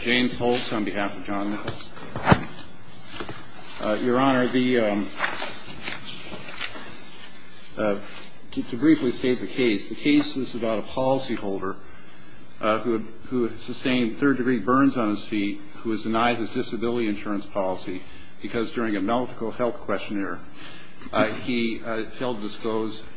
James Holtz on behalf of John Nichols. Your Honor, to briefly state the case. The case is about a policyholder who had sustained third degree burns on his feet who was denied his disability insurance policy because during a medical health questionnaire he held disclosed his disability insurance policy.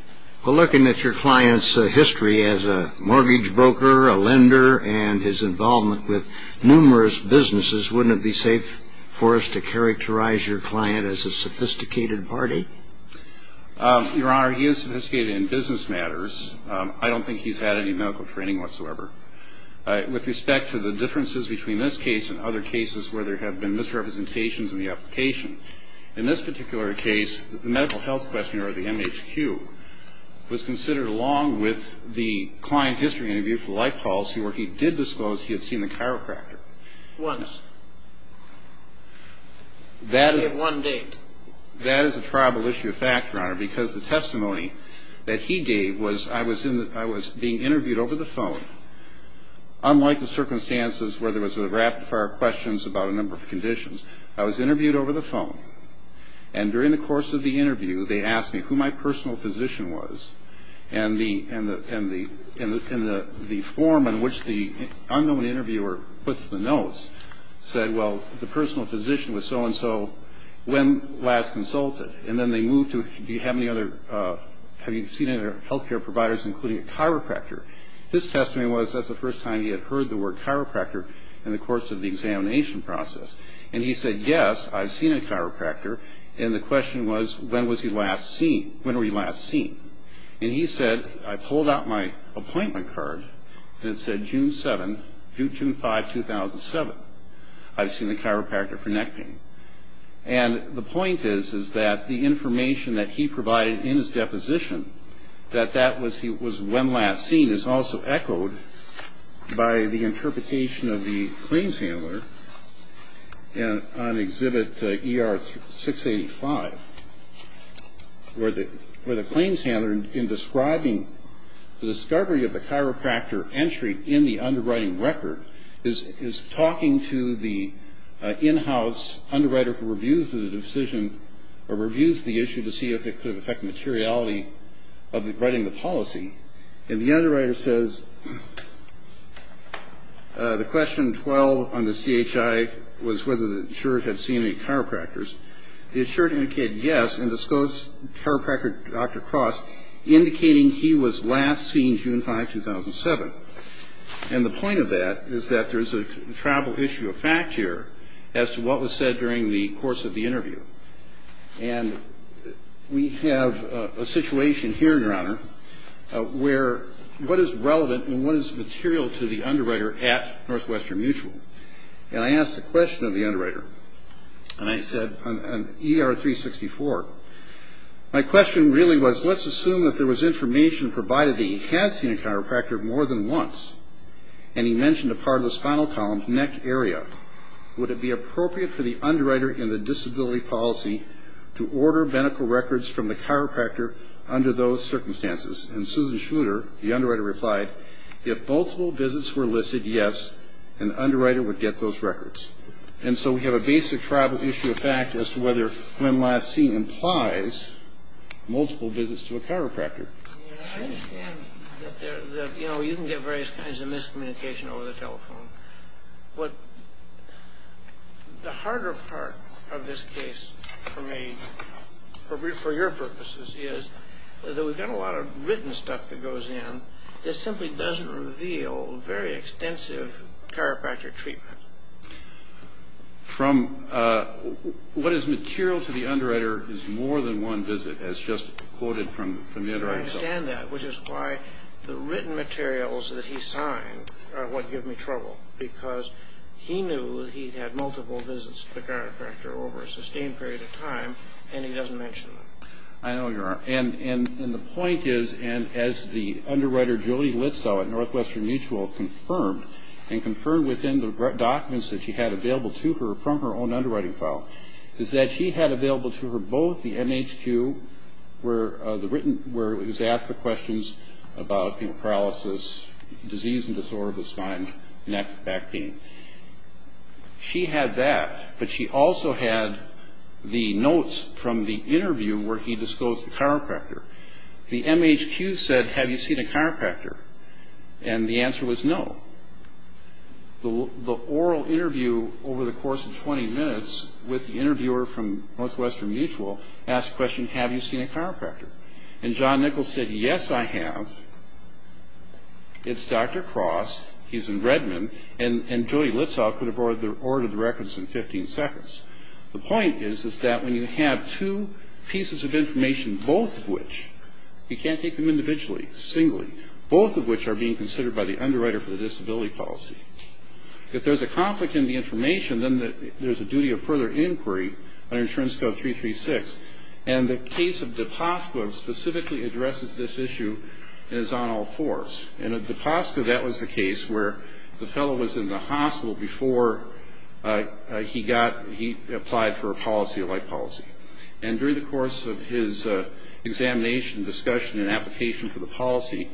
Well, looking at your client's history as a mortgage broker, a lender, and his involvement with numerous businesses, wouldn't it be safe for us to characterize your client as a sophisticated party? Your Honor, he is sophisticated in business matters. I don't think he's had any medical training whatsoever. With respect to the differences between this case and other cases where there have been misrepresentations in the application, in this particular case, the medical health questionnaire, or the MHQ, was considered along with the client history interview for life policy where he did disclose he had seen the chiropractor. Once. That is a tribal issue of fact, Your Honor, because the testimony that he gave was I was being interviewed over the phone unlike the circumstances where there was a rapid fire questions about a number of conditions. I was interviewed over the phone. And during the course of the interview, they asked me who my personal physician was. And the form in which the unknown interviewer puts the notes said, well, the personal physician was so-and-so. When last consulted? And then they moved to do you have any other, have you seen any other health care providers including a chiropractor? His testimony was that's the first time he had heard the word chiropractor in the course of the examination process. And he said, yes, I've seen a chiropractor. And the question was, when was he last seen? When were you last seen? And he said, I pulled out my appointment card, and it said June 7, June 5, 2007. I've seen a chiropractor for neck pain. And the point is, is that the information that he provided in his deposition, that that was when last seen, is also echoed by the interpretation of the claims handler on Exhibit ER-685, where the claims handler, in describing the discovery of the chiropractor entry in the underwriting record, is talking to the in-house underwriter who reviews the decision, or reviews the issue to see if it could affect the materiality of writing the policy. And the underwriter says, the question 12 on the CHI was whether the insured had seen any chiropractors. The insured indicated yes, and disclosed chiropractor Dr. Cross, indicating he was last seen June 5, 2007. And the point of that is that there's a travel issue of fact here as to what was said during the course of the interview. And we have a situation here, Your Honor, where what is relevant and what is material to the underwriter at Northwestern Mutual? And I asked the question of the underwriter, and I said on ER-364, My question really was, let's assume that there was information provided that he had seen a chiropractor more than once, and he mentioned a part of the spinal column, neck area. Would it be appropriate for the underwriter in the disability policy to order medical records from the chiropractor under those circumstances? And Susan Schmuder, the underwriter, replied, if multiple visits were listed, yes, and the underwriter would get those records. And so we have a basic travel issue of fact as to whether when last seen implies multiple visits to a chiropractor. I understand that, you know, you can get various kinds of miscommunication over the telephone. But the harder part of this case for me, for your purposes, is that we've got a lot of written stuff that goes in that simply doesn't reveal very extensive chiropractor treatment. From what is material to the underwriter is more than one visit, as just quoted from the underwriter. I understand that, which is why the written materials that he signed are what give me trouble, because he knew that he'd had multiple visits to the chiropractor over a sustained period of time, and he doesn't mention them. I know, Your Honor. And the point is, and as the underwriter, Julie Litzow, at Northwestern Mutual, confirmed, and confirmed within the documents that she had available to her from her own underwriting file, is that she had available to her both the MHQ, where it was asked the questions about paralysis, disease and disorder of the spine, and that back pain. She had that, but she also had the notes from the interview where he disclosed the chiropractor. The MHQ said, Have you seen a chiropractor? And the answer was no. The oral interview over the course of 20 minutes with the interviewer from Northwestern Mutual asked the question, Have you seen a chiropractor? And John Nichols said, Yes, I have. It's Dr. Cross. He's in Redmond, and Julie Litzow could have ordered the records in 15 seconds. The point is that when you have two pieces of information, both of which, you can't take them individually, singly, both of which are being considered by the underwriter for the disability policy. If there's a conflict in the information, then there's a duty of further inquiry under Insurance Code 336, and the case of DePoska specifically addresses this issue and is on all fours. In DePoska, that was the case where the fellow was in the hospital before he applied for a policy, a life policy. And during the course of his examination, discussion and application for the policy,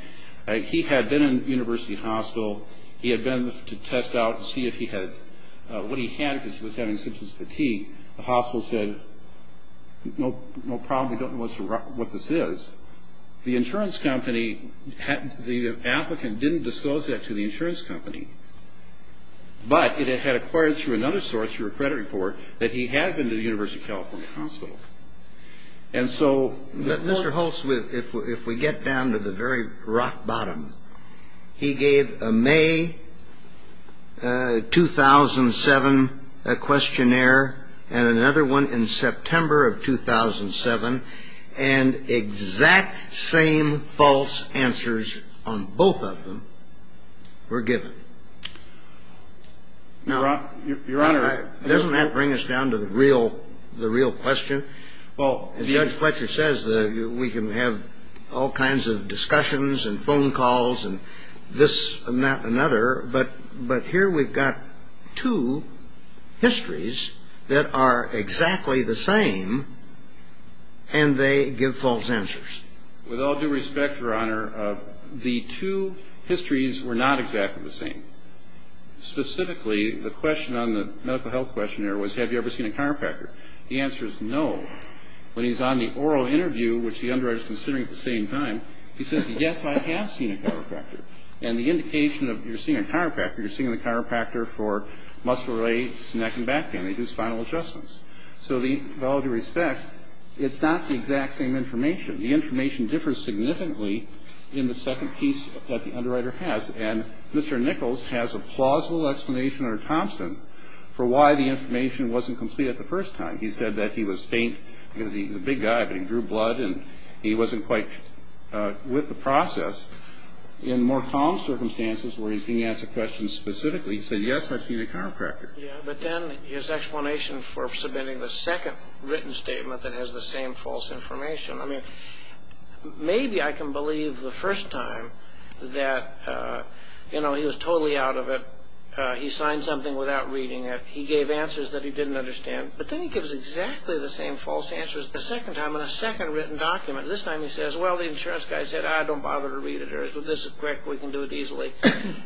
he had been in a university hospital. He had been to test out and see what he had because he was having symptoms of fatigue. The hospital said, No problem. We don't know what this is. The insurance company, the applicant didn't disclose that to the insurance company, but it had acquired through another source, through a credit report, that he had been to the University of California hospital. And so Mr. Holtz, if we get down to the very rock bottom, he gave a May 2007 questionnaire and another one in September of 2007, and exact same false answers on both of them were given. Now, Your Honor, doesn't that bring us down to the real question? Well, as Judge Fletcher says, we can have all kinds of discussions and phone calls and this and that and another, but here we've got two histories that are exactly the same, and they give false answers. With all due respect, Your Honor, the two histories were not exactly the same. Specifically, the question on the medical health questionnaire was, Have you ever seen a chiropractor? The answer is no. When he's on the oral interview, which the underwriter is considering at the same time, he says, Yes, I have seen a chiropractor. And the indication of you're seeing a chiropractor, you're seeing the chiropractor for muscle rates, neck and back pain. They do spinal adjustments. So with all due respect, it's not the exact same information. The information differs significantly in the second piece that the underwriter has, and Mr. Nichols has a plausible explanation under Thompson for why the information wasn't complete at the first time. He said that he was faint because he was a big guy, but he drew blood and he wasn't quite with the process. In more calm circumstances where he's being asked a question specifically, he said, Yes, I've seen a chiropractor. Yeah, but then his explanation for submitting the second written statement that has the same false information. I mean, maybe I can believe the first time that, you know, he was totally out of it. He signed something without reading it. He gave answers that he didn't understand. But then he gives exactly the same false answers the second time in a second written document. This time he says, Well, the insurance guy said, Ah, don't bother to read it. This is correct. We can do it easily.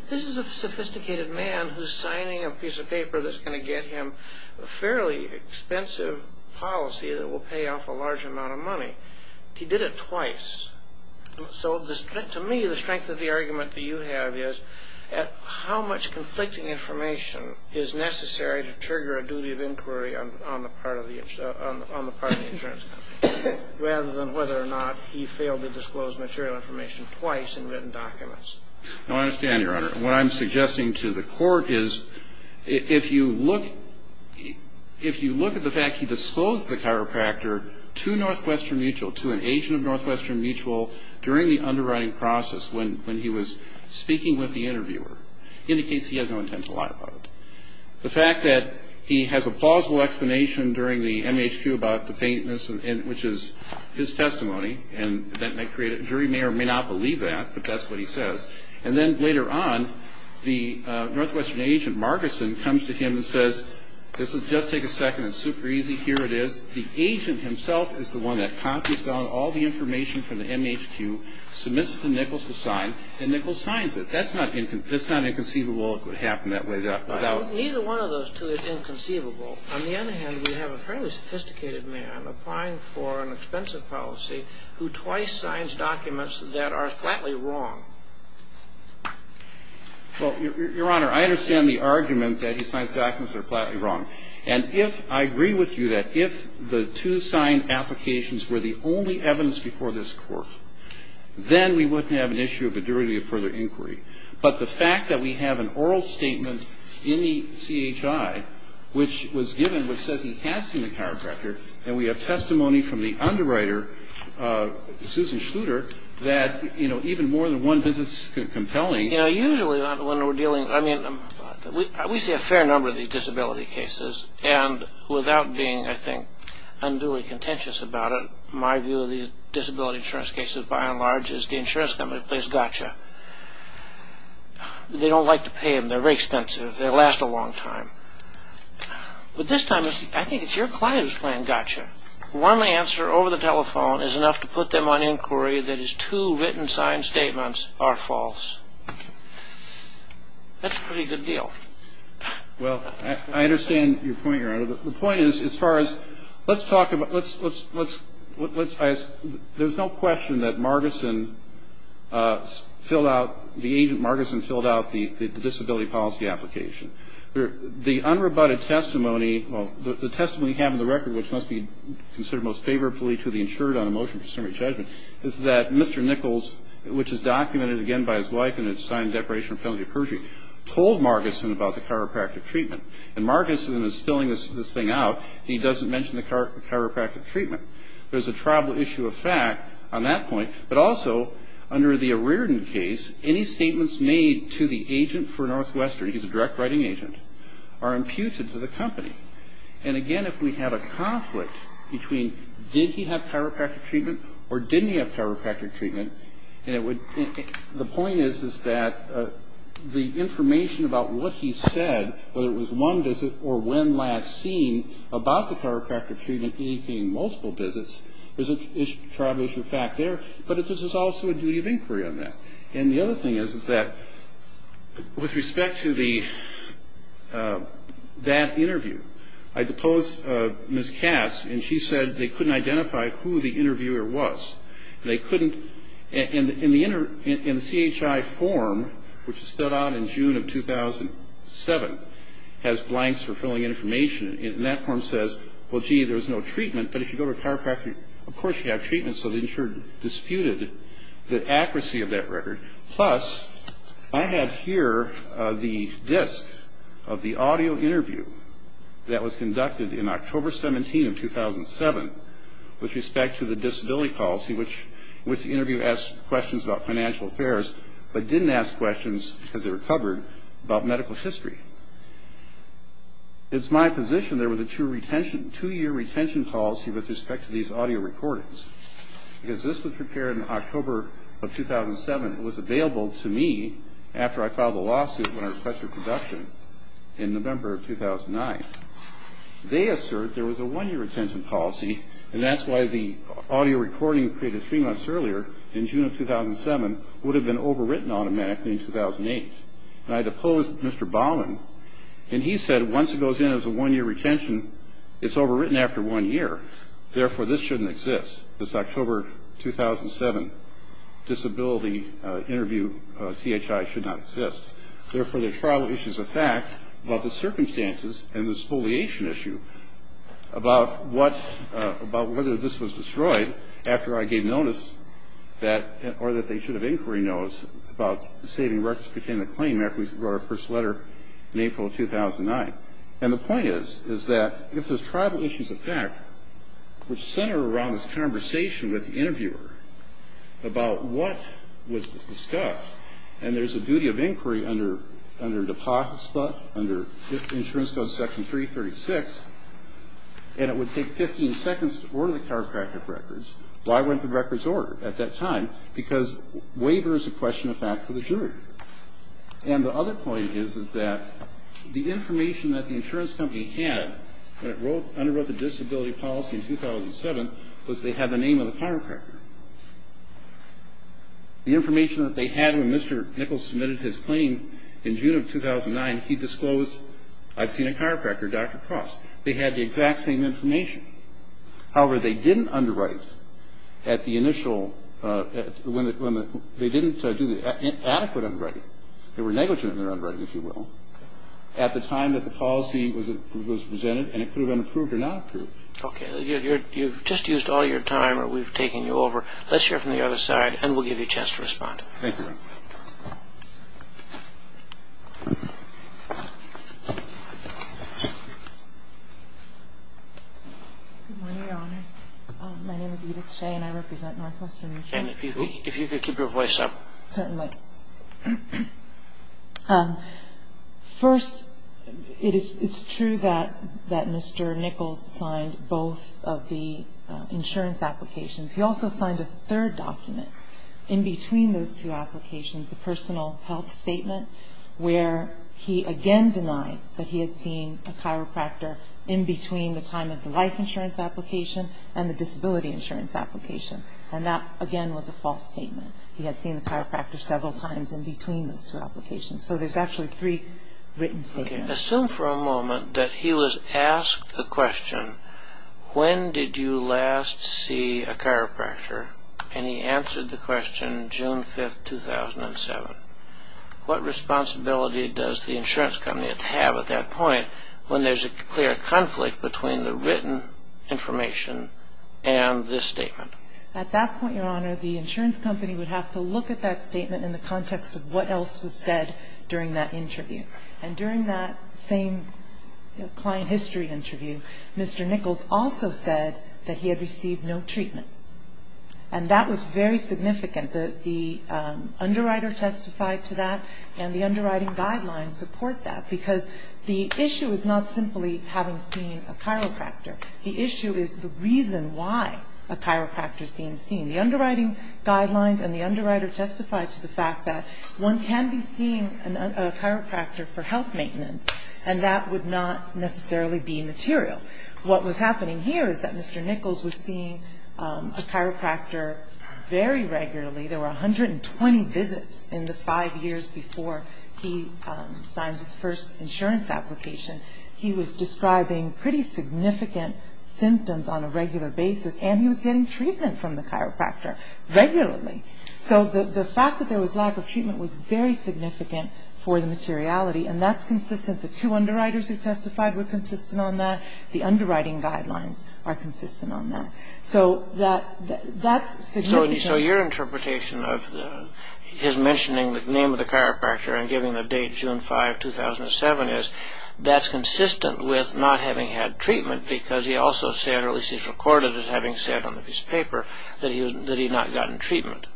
This is a sophisticated man who's signing a piece of paper that's going to get him a fairly expensive policy that will pay off a large amount of money. He did it twice. So to me, the strength of the argument that you have is how much conflicting information is necessary to trigger a duty of inquiry on the part of the insurance company, rather than whether or not he failed to disclose material information twice in written documents. No, I understand, Your Honor. What I'm suggesting to the Court is if you look at the fact he disclosed the chiropractor to Northwestern Mutual, to an agent of Northwestern Mutual during the underwriting process when he was speaking with the interviewer, indicates he has no intent to lie about it. The fact that he has a plausible explanation during the MHQ about the faintness, which is his testimony, and the jury may or may not believe that, but that's what he says. And then later on, the Northwestern agent, Margarson, comes to him and says, This will just take a second. It's super easy. Here it is. The agent himself is the one that copies down all the information from the MHQ, submits it to Nichols to sign, and Nichols signs it. That's not inconceivable it would happen that way. Neither one of those two is inconceivable. On the other hand, we have a fairly sophisticated man applying for an expensive policy who twice signs documents that are flatly wrong. Well, Your Honor, I understand the argument that he signs documents that are flatly wrong. And if I agree with you that if the two signed applications were the only evidence before this Court, then we wouldn't have an issue of a durity of further inquiry. But the fact that we have an oral statement in the CHI, which was given, which says he has seen the chiropractor, and we have testimony from the underwriter, Susan Schluter, that even more than one visit is compelling. You know, usually when we're dealing, I mean, we see a fair number of these disability cases. And without being, I think, unduly contentious about it, my view of these disability insurance cases, by and large, is the insurance company plays gotcha. They don't like to pay them. They're very expensive. They last a long time. But this time, I think it's your client who's playing gotcha. One answer over the telephone is enough to put them on inquiry that his two written signed statements are false. That's a pretty good deal. Well, I understand your point, Your Honor. The point is, as far as, let's talk about, let's, let's, let's, there's no question that Margarson filled out, the agent Margarson filled out the disability policy application. The unrebutted testimony, the testimony we have in the record, which must be considered most favorably to the insured on a motion for summary judgment, is that Mr. Nichols, which is documented, again, by his wife, and it's signed declaration of penalty of perjury, told Margarson about the chiropractic treatment. And Margarson is filling this thing out. He doesn't mention the chiropractic treatment. There's a tribal issue of fact on that point. But also, under the Arirden case, any statements made to the agent for Northwestern, he's a direct writing agent, are imputed to the company. And, again, if we have a conflict between did he have chiropractic treatment or didn't he have chiropractic treatment, and it would, the point is, is that the information about what he said, whether it was one visit or when last seen about the chiropractic treatment indicating multiple visits, there's a tribal issue of fact there. But it's also a duty of inquiry on that. And the other thing is, is that with respect to the, that interview, I deposed Ms. Cass, and she said they couldn't identify who the interviewer was. And they couldn't, in the CHI form, which stood out in June of 2007, has blanks for filling in information. And that form says, well, gee, there was no treatment. But if you go to a chiropractor, of course you have treatment. So the insurer disputed the accuracy of that record. Plus, I have here the disk of the audio interview that was conducted in October 17 of 2007 with respect to the disability policy which the interviewer asked questions about financial affairs but didn't ask questions because they were covered about medical history. It's my position there was a two-year retention policy with respect to these audio recordings because this was prepared in October of 2007. It was available to me after I filed a lawsuit when I requested production in November of 2009. They assert there was a one-year retention policy, and that's why the audio recording created three months earlier in June of 2007 would have been overwritten automatically in 2008. And I deposed Mr. Baumann, and he said once it goes in as a one-year retention, it's overwritten after one year. Therefore, this shouldn't exist. This October 2007 disability interview CHI should not exist. Therefore, there's tribal issues of fact about the circumstances and the spoliation issue about whether this was destroyed after I gave notice or that they should have inquiry notes about saving records pertaining to the claim after we wrote our first letter in April of 2009. And the point is that if there's tribal issues of fact which center around this conversation with the interviewer about what was discussed, and there's a duty of inquiry under deposit spot, under insurance code section 336, and it would take 15 seconds to order the chiropractic records, why weren't the records ordered at that time? Because waiver is a question of fact for the jury. And the other point is that the information that the insurance company had when it underwrote the disability policy in 2007 was they had the name of the chiropractor. The information that they had when Mr. Nichols submitted his claim in June of 2009, he disclosed, I've seen a chiropractor, Dr. Cross. They had the exact same information. However, they didn't underwrite at the initial when they didn't do the adequate underwriting. They were negligent in their underwriting, if you will, at the time that the policy was presented, and it could have been approved or not approved. Okay. You've just used all your time, or we've taken you over. Let's hear from the other side, and we'll give you a chance to respond. Thank you. Good morning, Your Honors. My name is Edith Shea, and I represent Northwestern. And if you could keep your voice up. Certainly. Good. First, it's true that Mr. Nichols signed both of the insurance applications. He also signed a third document in between those two applications, the personal health statement, where he again denied that he had seen a chiropractor in between the time of the life insurance application and the disability insurance application. And that, again, was a false statement. He had seen the chiropractor several times in between those two applications. So there's actually three written statements. Okay. Assume for a moment that he was asked the question, when did you last see a chiropractor? And he answered the question June 5, 2007. What responsibility does the insurance company have at that point when there's a clear conflict between the written information and this statement? At that point, Your Honor, the insurance company would have to look at that statement in the context of what else was said during that interview. And during that same client history interview, Mr. Nichols also said that he had received no treatment. And that was very significant. The underwriter testified to that, and the underwriting guidelines support that, because the issue is not simply having seen a chiropractor. The issue is the reason why a chiropractor is being seen. The underwriting guidelines and the underwriter testified to the fact that one can be seeing a chiropractor for health maintenance, and that would not necessarily be material. What was happening here is that Mr. Nichols was seeing a chiropractor very regularly. There were 120 visits in the five years before he signed his first insurance application. He was describing pretty significant symptoms on a regular basis, and he was getting treatment from the chiropractor regularly. So the fact that there was lack of treatment was very significant for the materiality, and that's consistent. The two underwriters who testified were consistent on that. The underwriting guidelines are consistent on that. So that's significant. So your interpretation of his mentioning the name of the chiropractor and giving the date, June 5, 2007, is that's consistent with not having had treatment, because he also said, or at least he's recorded as having said on the piece of paper, that he had not gotten treatment.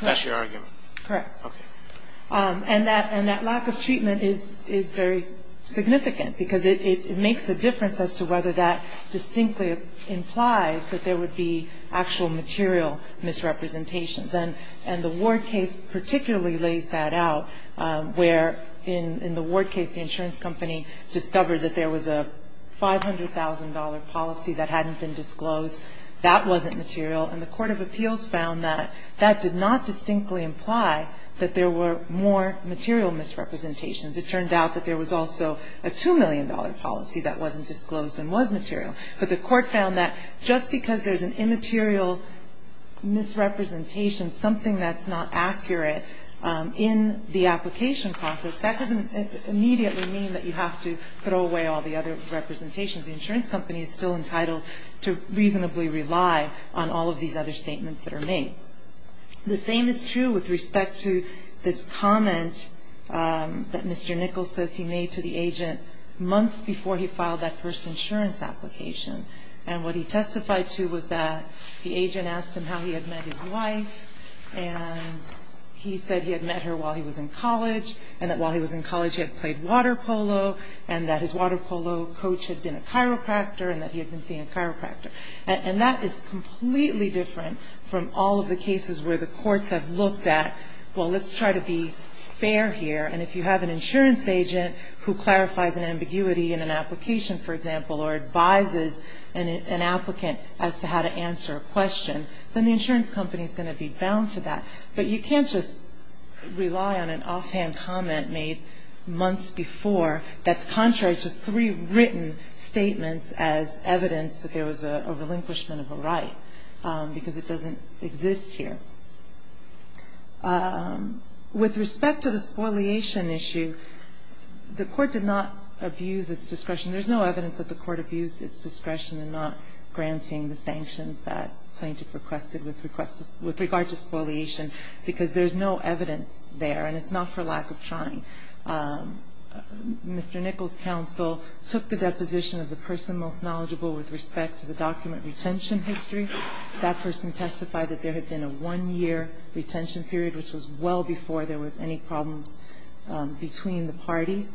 That's your argument. Correct. Okay. And that lack of treatment is very significant, because it makes a difference as to whether that distinctly implies that there would be actual material misrepresentations. And the Ward case particularly lays that out, where in the Ward case, the insurance company discovered that there was a $500,000 policy that hadn't been disclosed. That wasn't material. And the court of appeals found that that did not distinctly imply that there were more material misrepresentations. It turned out that there was also a $2 million policy that wasn't disclosed and was material. But the court found that just because there's an immaterial misrepresentation, something that's not accurate in the application process, that doesn't immediately mean that you have to throw away all the other representations. The insurance company is still entitled to reasonably rely on all of these other statements that are made. The same is true with respect to this comment that Mr. Nichols says he made to the agent months before he filed that first insurance application. And what he testified to was that the agent asked him how he had met his wife, and he said he had met her while he was in college, and that while he was in college he had played water polo, and that his water polo coach had been a chiropractor, and that he had been seeing a chiropractor. And that is completely different from all of the cases where the courts have looked at, well, let's try to be fair here. And if you have an insurance agent who clarifies an ambiguity in an application, for example, or advises an applicant as to how to answer a question, then the insurance company is going to be bound to that. But you can't just rely on an offhand comment made months before that's contrary to three written statements as evidence that there was a relinquishment of a right, because it doesn't exist here. With respect to the spoliation issue, the Court did not abuse its discretion. There's no evidence that the Court abused its discretion in not granting the sanctions that plaintiff requested with regard to spoliation, because there's no evidence there, and it's not for lack of trying. Mr. Nichols' counsel took the deposition of the person most knowledgeable with respect to the document retention history. That person testified that there had been a one-year retention period, which was well before there was any problems between the parties.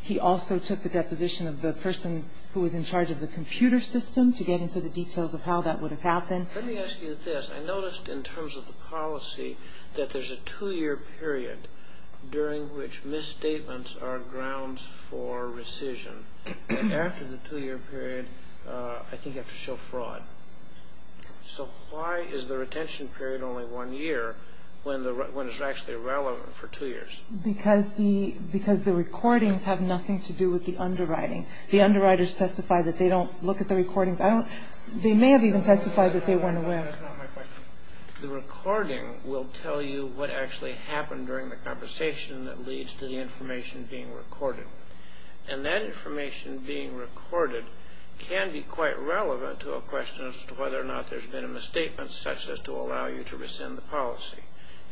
He also took the deposition of the person who was in charge of the computer system to get into the details of how that would have happened. Let me ask you this. I noticed in terms of the policy that there's a two-year period during which misstatements are grounds for rescission. After the two-year period, I think you have to show fraud. So why is the retention period only one year when it's actually relevant for two years? Because the recordings have nothing to do with the underwriting. The underwriters testify that they don't look at the recordings. They may have even testified that they weren't aware. That's not my question. The recording will tell you what actually happened during the conversation that leads to the information being recorded. And that information being recorded can be quite relevant to a question as to whether or not there's been a misstatement such as to allow you to rescind the policy.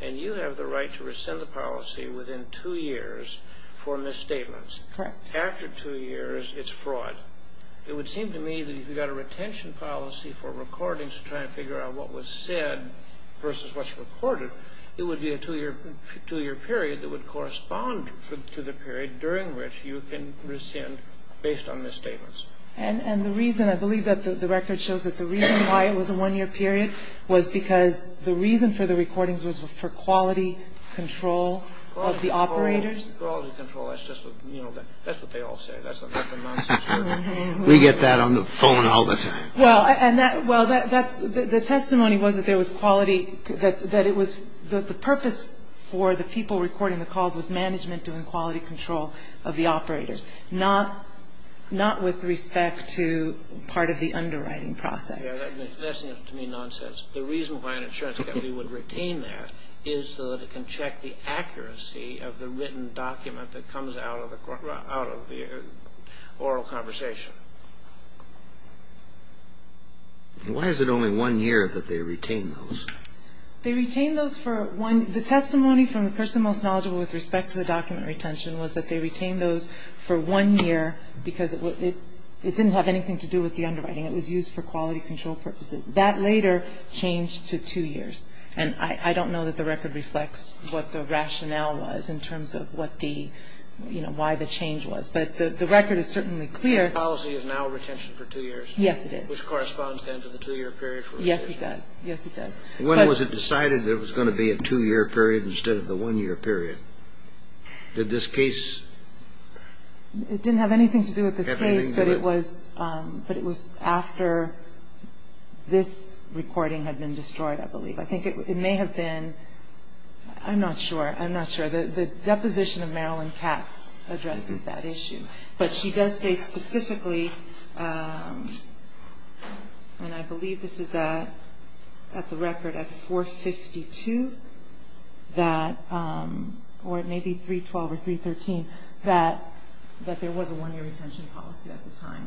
And you have the right to rescind the policy within two years for misstatements. Correct. After two years, it's fraud. It would seem to me that if you've got a retention policy for recordings to try and figure out what was said versus what's recorded, it would be a two-year period that would correspond to the period during which you can rescind based on misstatements. And the reason, I believe that the record shows that the reason why it was a one-year period was because the reason for the recordings was for quality control of the operators. Quality control. That's what they all say. That's the nonsense. We get that on the phone all the time. Well, the testimony was that the purpose for the people recording the calls was management doing quality control of the operators, not with respect to part of the underwriting process. That seems to me nonsense. The reason why an insurance company would retain that is so that it can check the accuracy of the written document that comes out of the oral conversation. Why is it only one year that they retain those? They retain those for one year. The testimony from the person most knowledgeable with respect to the document retention was that they retained those for one year because it didn't have anything to do with the underwriting. It was used for quality control purposes. That later changed to two years. And I don't know that the record reflects what the rationale was in terms of what the, you know, why the change was. But the record is certainly clear. The policy is now retention for two years. Yes, it is. Which corresponds then to the two-year period for retention. Yes, it does. Yes, it does. When was it decided it was going to be a two-year period instead of the one-year period? Did this case have anything to do with it? It didn't have anything to do with this case, but it was after this recording had been destroyed, I believe. I think it may have been. I'm not sure. I'm not sure. The deposition of Marilyn Katz addresses that issue. But she does say specifically, and I believe this is at the record at 452, that, or it may be 312 or 313, that there was a one-year retention policy at the time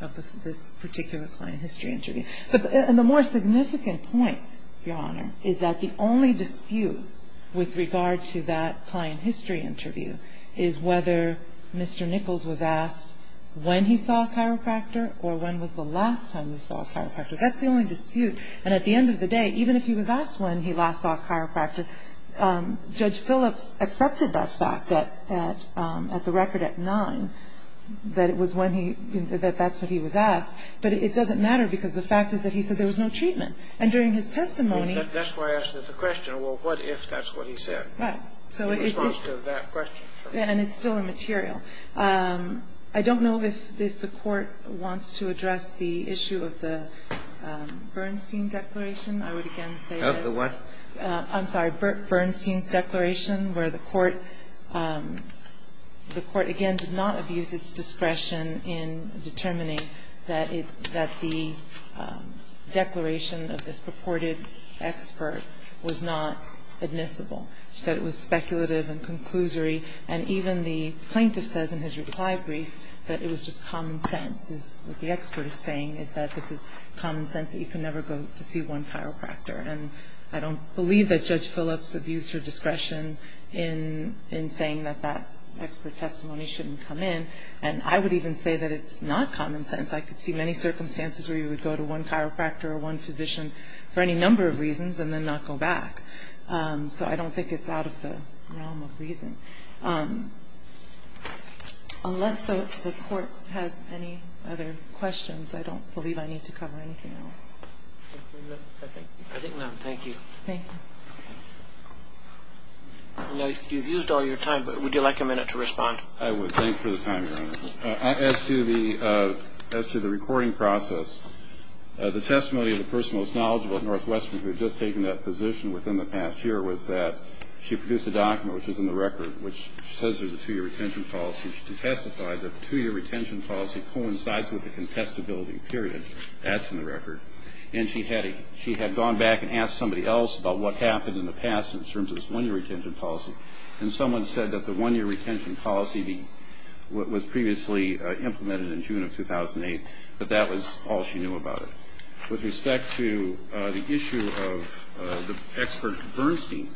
of this particular client history interview. And the more significant point, Your Honor, is that the only dispute with regard to that client history interview is whether Mr. Nichols was asked when he saw a chiropractor or when was the last time he saw a chiropractor. That's the only dispute. And at the end of the day, even if he was asked when he last saw a chiropractor, Judge Phillips accepted that fact at the record at 9, that it was when he, that that's when he was asked. But it doesn't matter because the fact is that he said there was no treatment. And during his testimony. That's why I asked the question, well, what if that's what he said? Right. In response to that question. And it's still immaterial. I don't know if the Court wants to address the issue of the Bernstein declaration. I would again say that. Of the what? I'm sorry. Bernstein's declaration where the Court, the Court again did not abuse its discretion in determining that it, that the declaration of this purported expert was not admissible. So it was speculative and conclusory. And even the plaintiff says in his reply brief that it was just common sense. What the expert is saying is that this is common sense that you can never go to see one chiropractor. And I don't believe that Judge Phillips abused her discretion in saying that that expert testimony shouldn't come in. And I would even say that it's not common sense. I could see many circumstances where you would go to one chiropractor or one physician for any number of reasons and then not go back. So I don't think it's out of the realm of reason. Unless the Court has any other questions, I don't believe I need to cover anything else. I think none. Thank you. Thank you. Okay. I know you've used all your time, but would you like a minute to respond? I would. Thanks for the time, Your Honor. As to the recording process, the testimony of the person most knowledgeable at Northwestern who had just taken that position within the past year was that she produced a document, which is in the record, which says there's a two-year retention policy. She testified that the two-year retention policy coincides with the contestability period. That's in the record. And she had gone back and asked somebody else about what happened in the past in terms of this one-year retention policy. And someone said that the one-year retention policy was previously implemented in June of 2008, but that was all she knew about it. With respect to the issue of the expert Bernstein,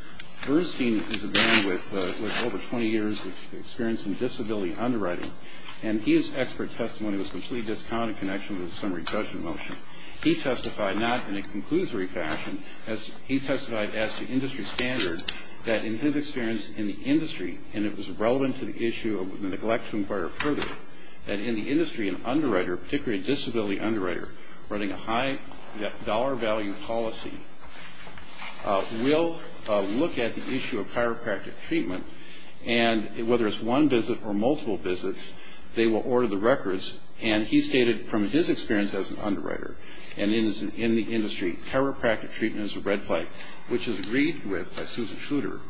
Bernstein is a man with over 20 years' experience in disability underwriting, and his expert testimony was completely discounted in connection with the summary judgment motion. He testified not in a conclusory fashion. He testified as to industry standards that in his experience in the industry, and it was relevant to the issue and would neglect to inquire further, that in the industry, an underwriter, particularly a disability underwriter, running a high-dollar-value policy will look at the issue of chiropractic treatment, and whether it's one visit or multiple visits, they will order the records. And he stated from his experience as an underwriter and in the industry, chiropractic treatment is a red flag, which is agreed with by Susan Schluter,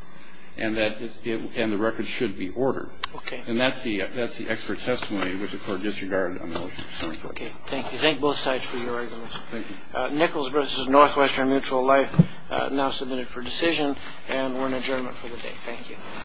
and the records should be ordered. Okay. And that's the expert testimony, which, of course, disregarded a motion. Okay. Thank you. Thank both sides for your arguments. Thank you. Nichols versus Northwestern Mutual Life now submitted for decision, and we're in adjournment for the day. Thank you.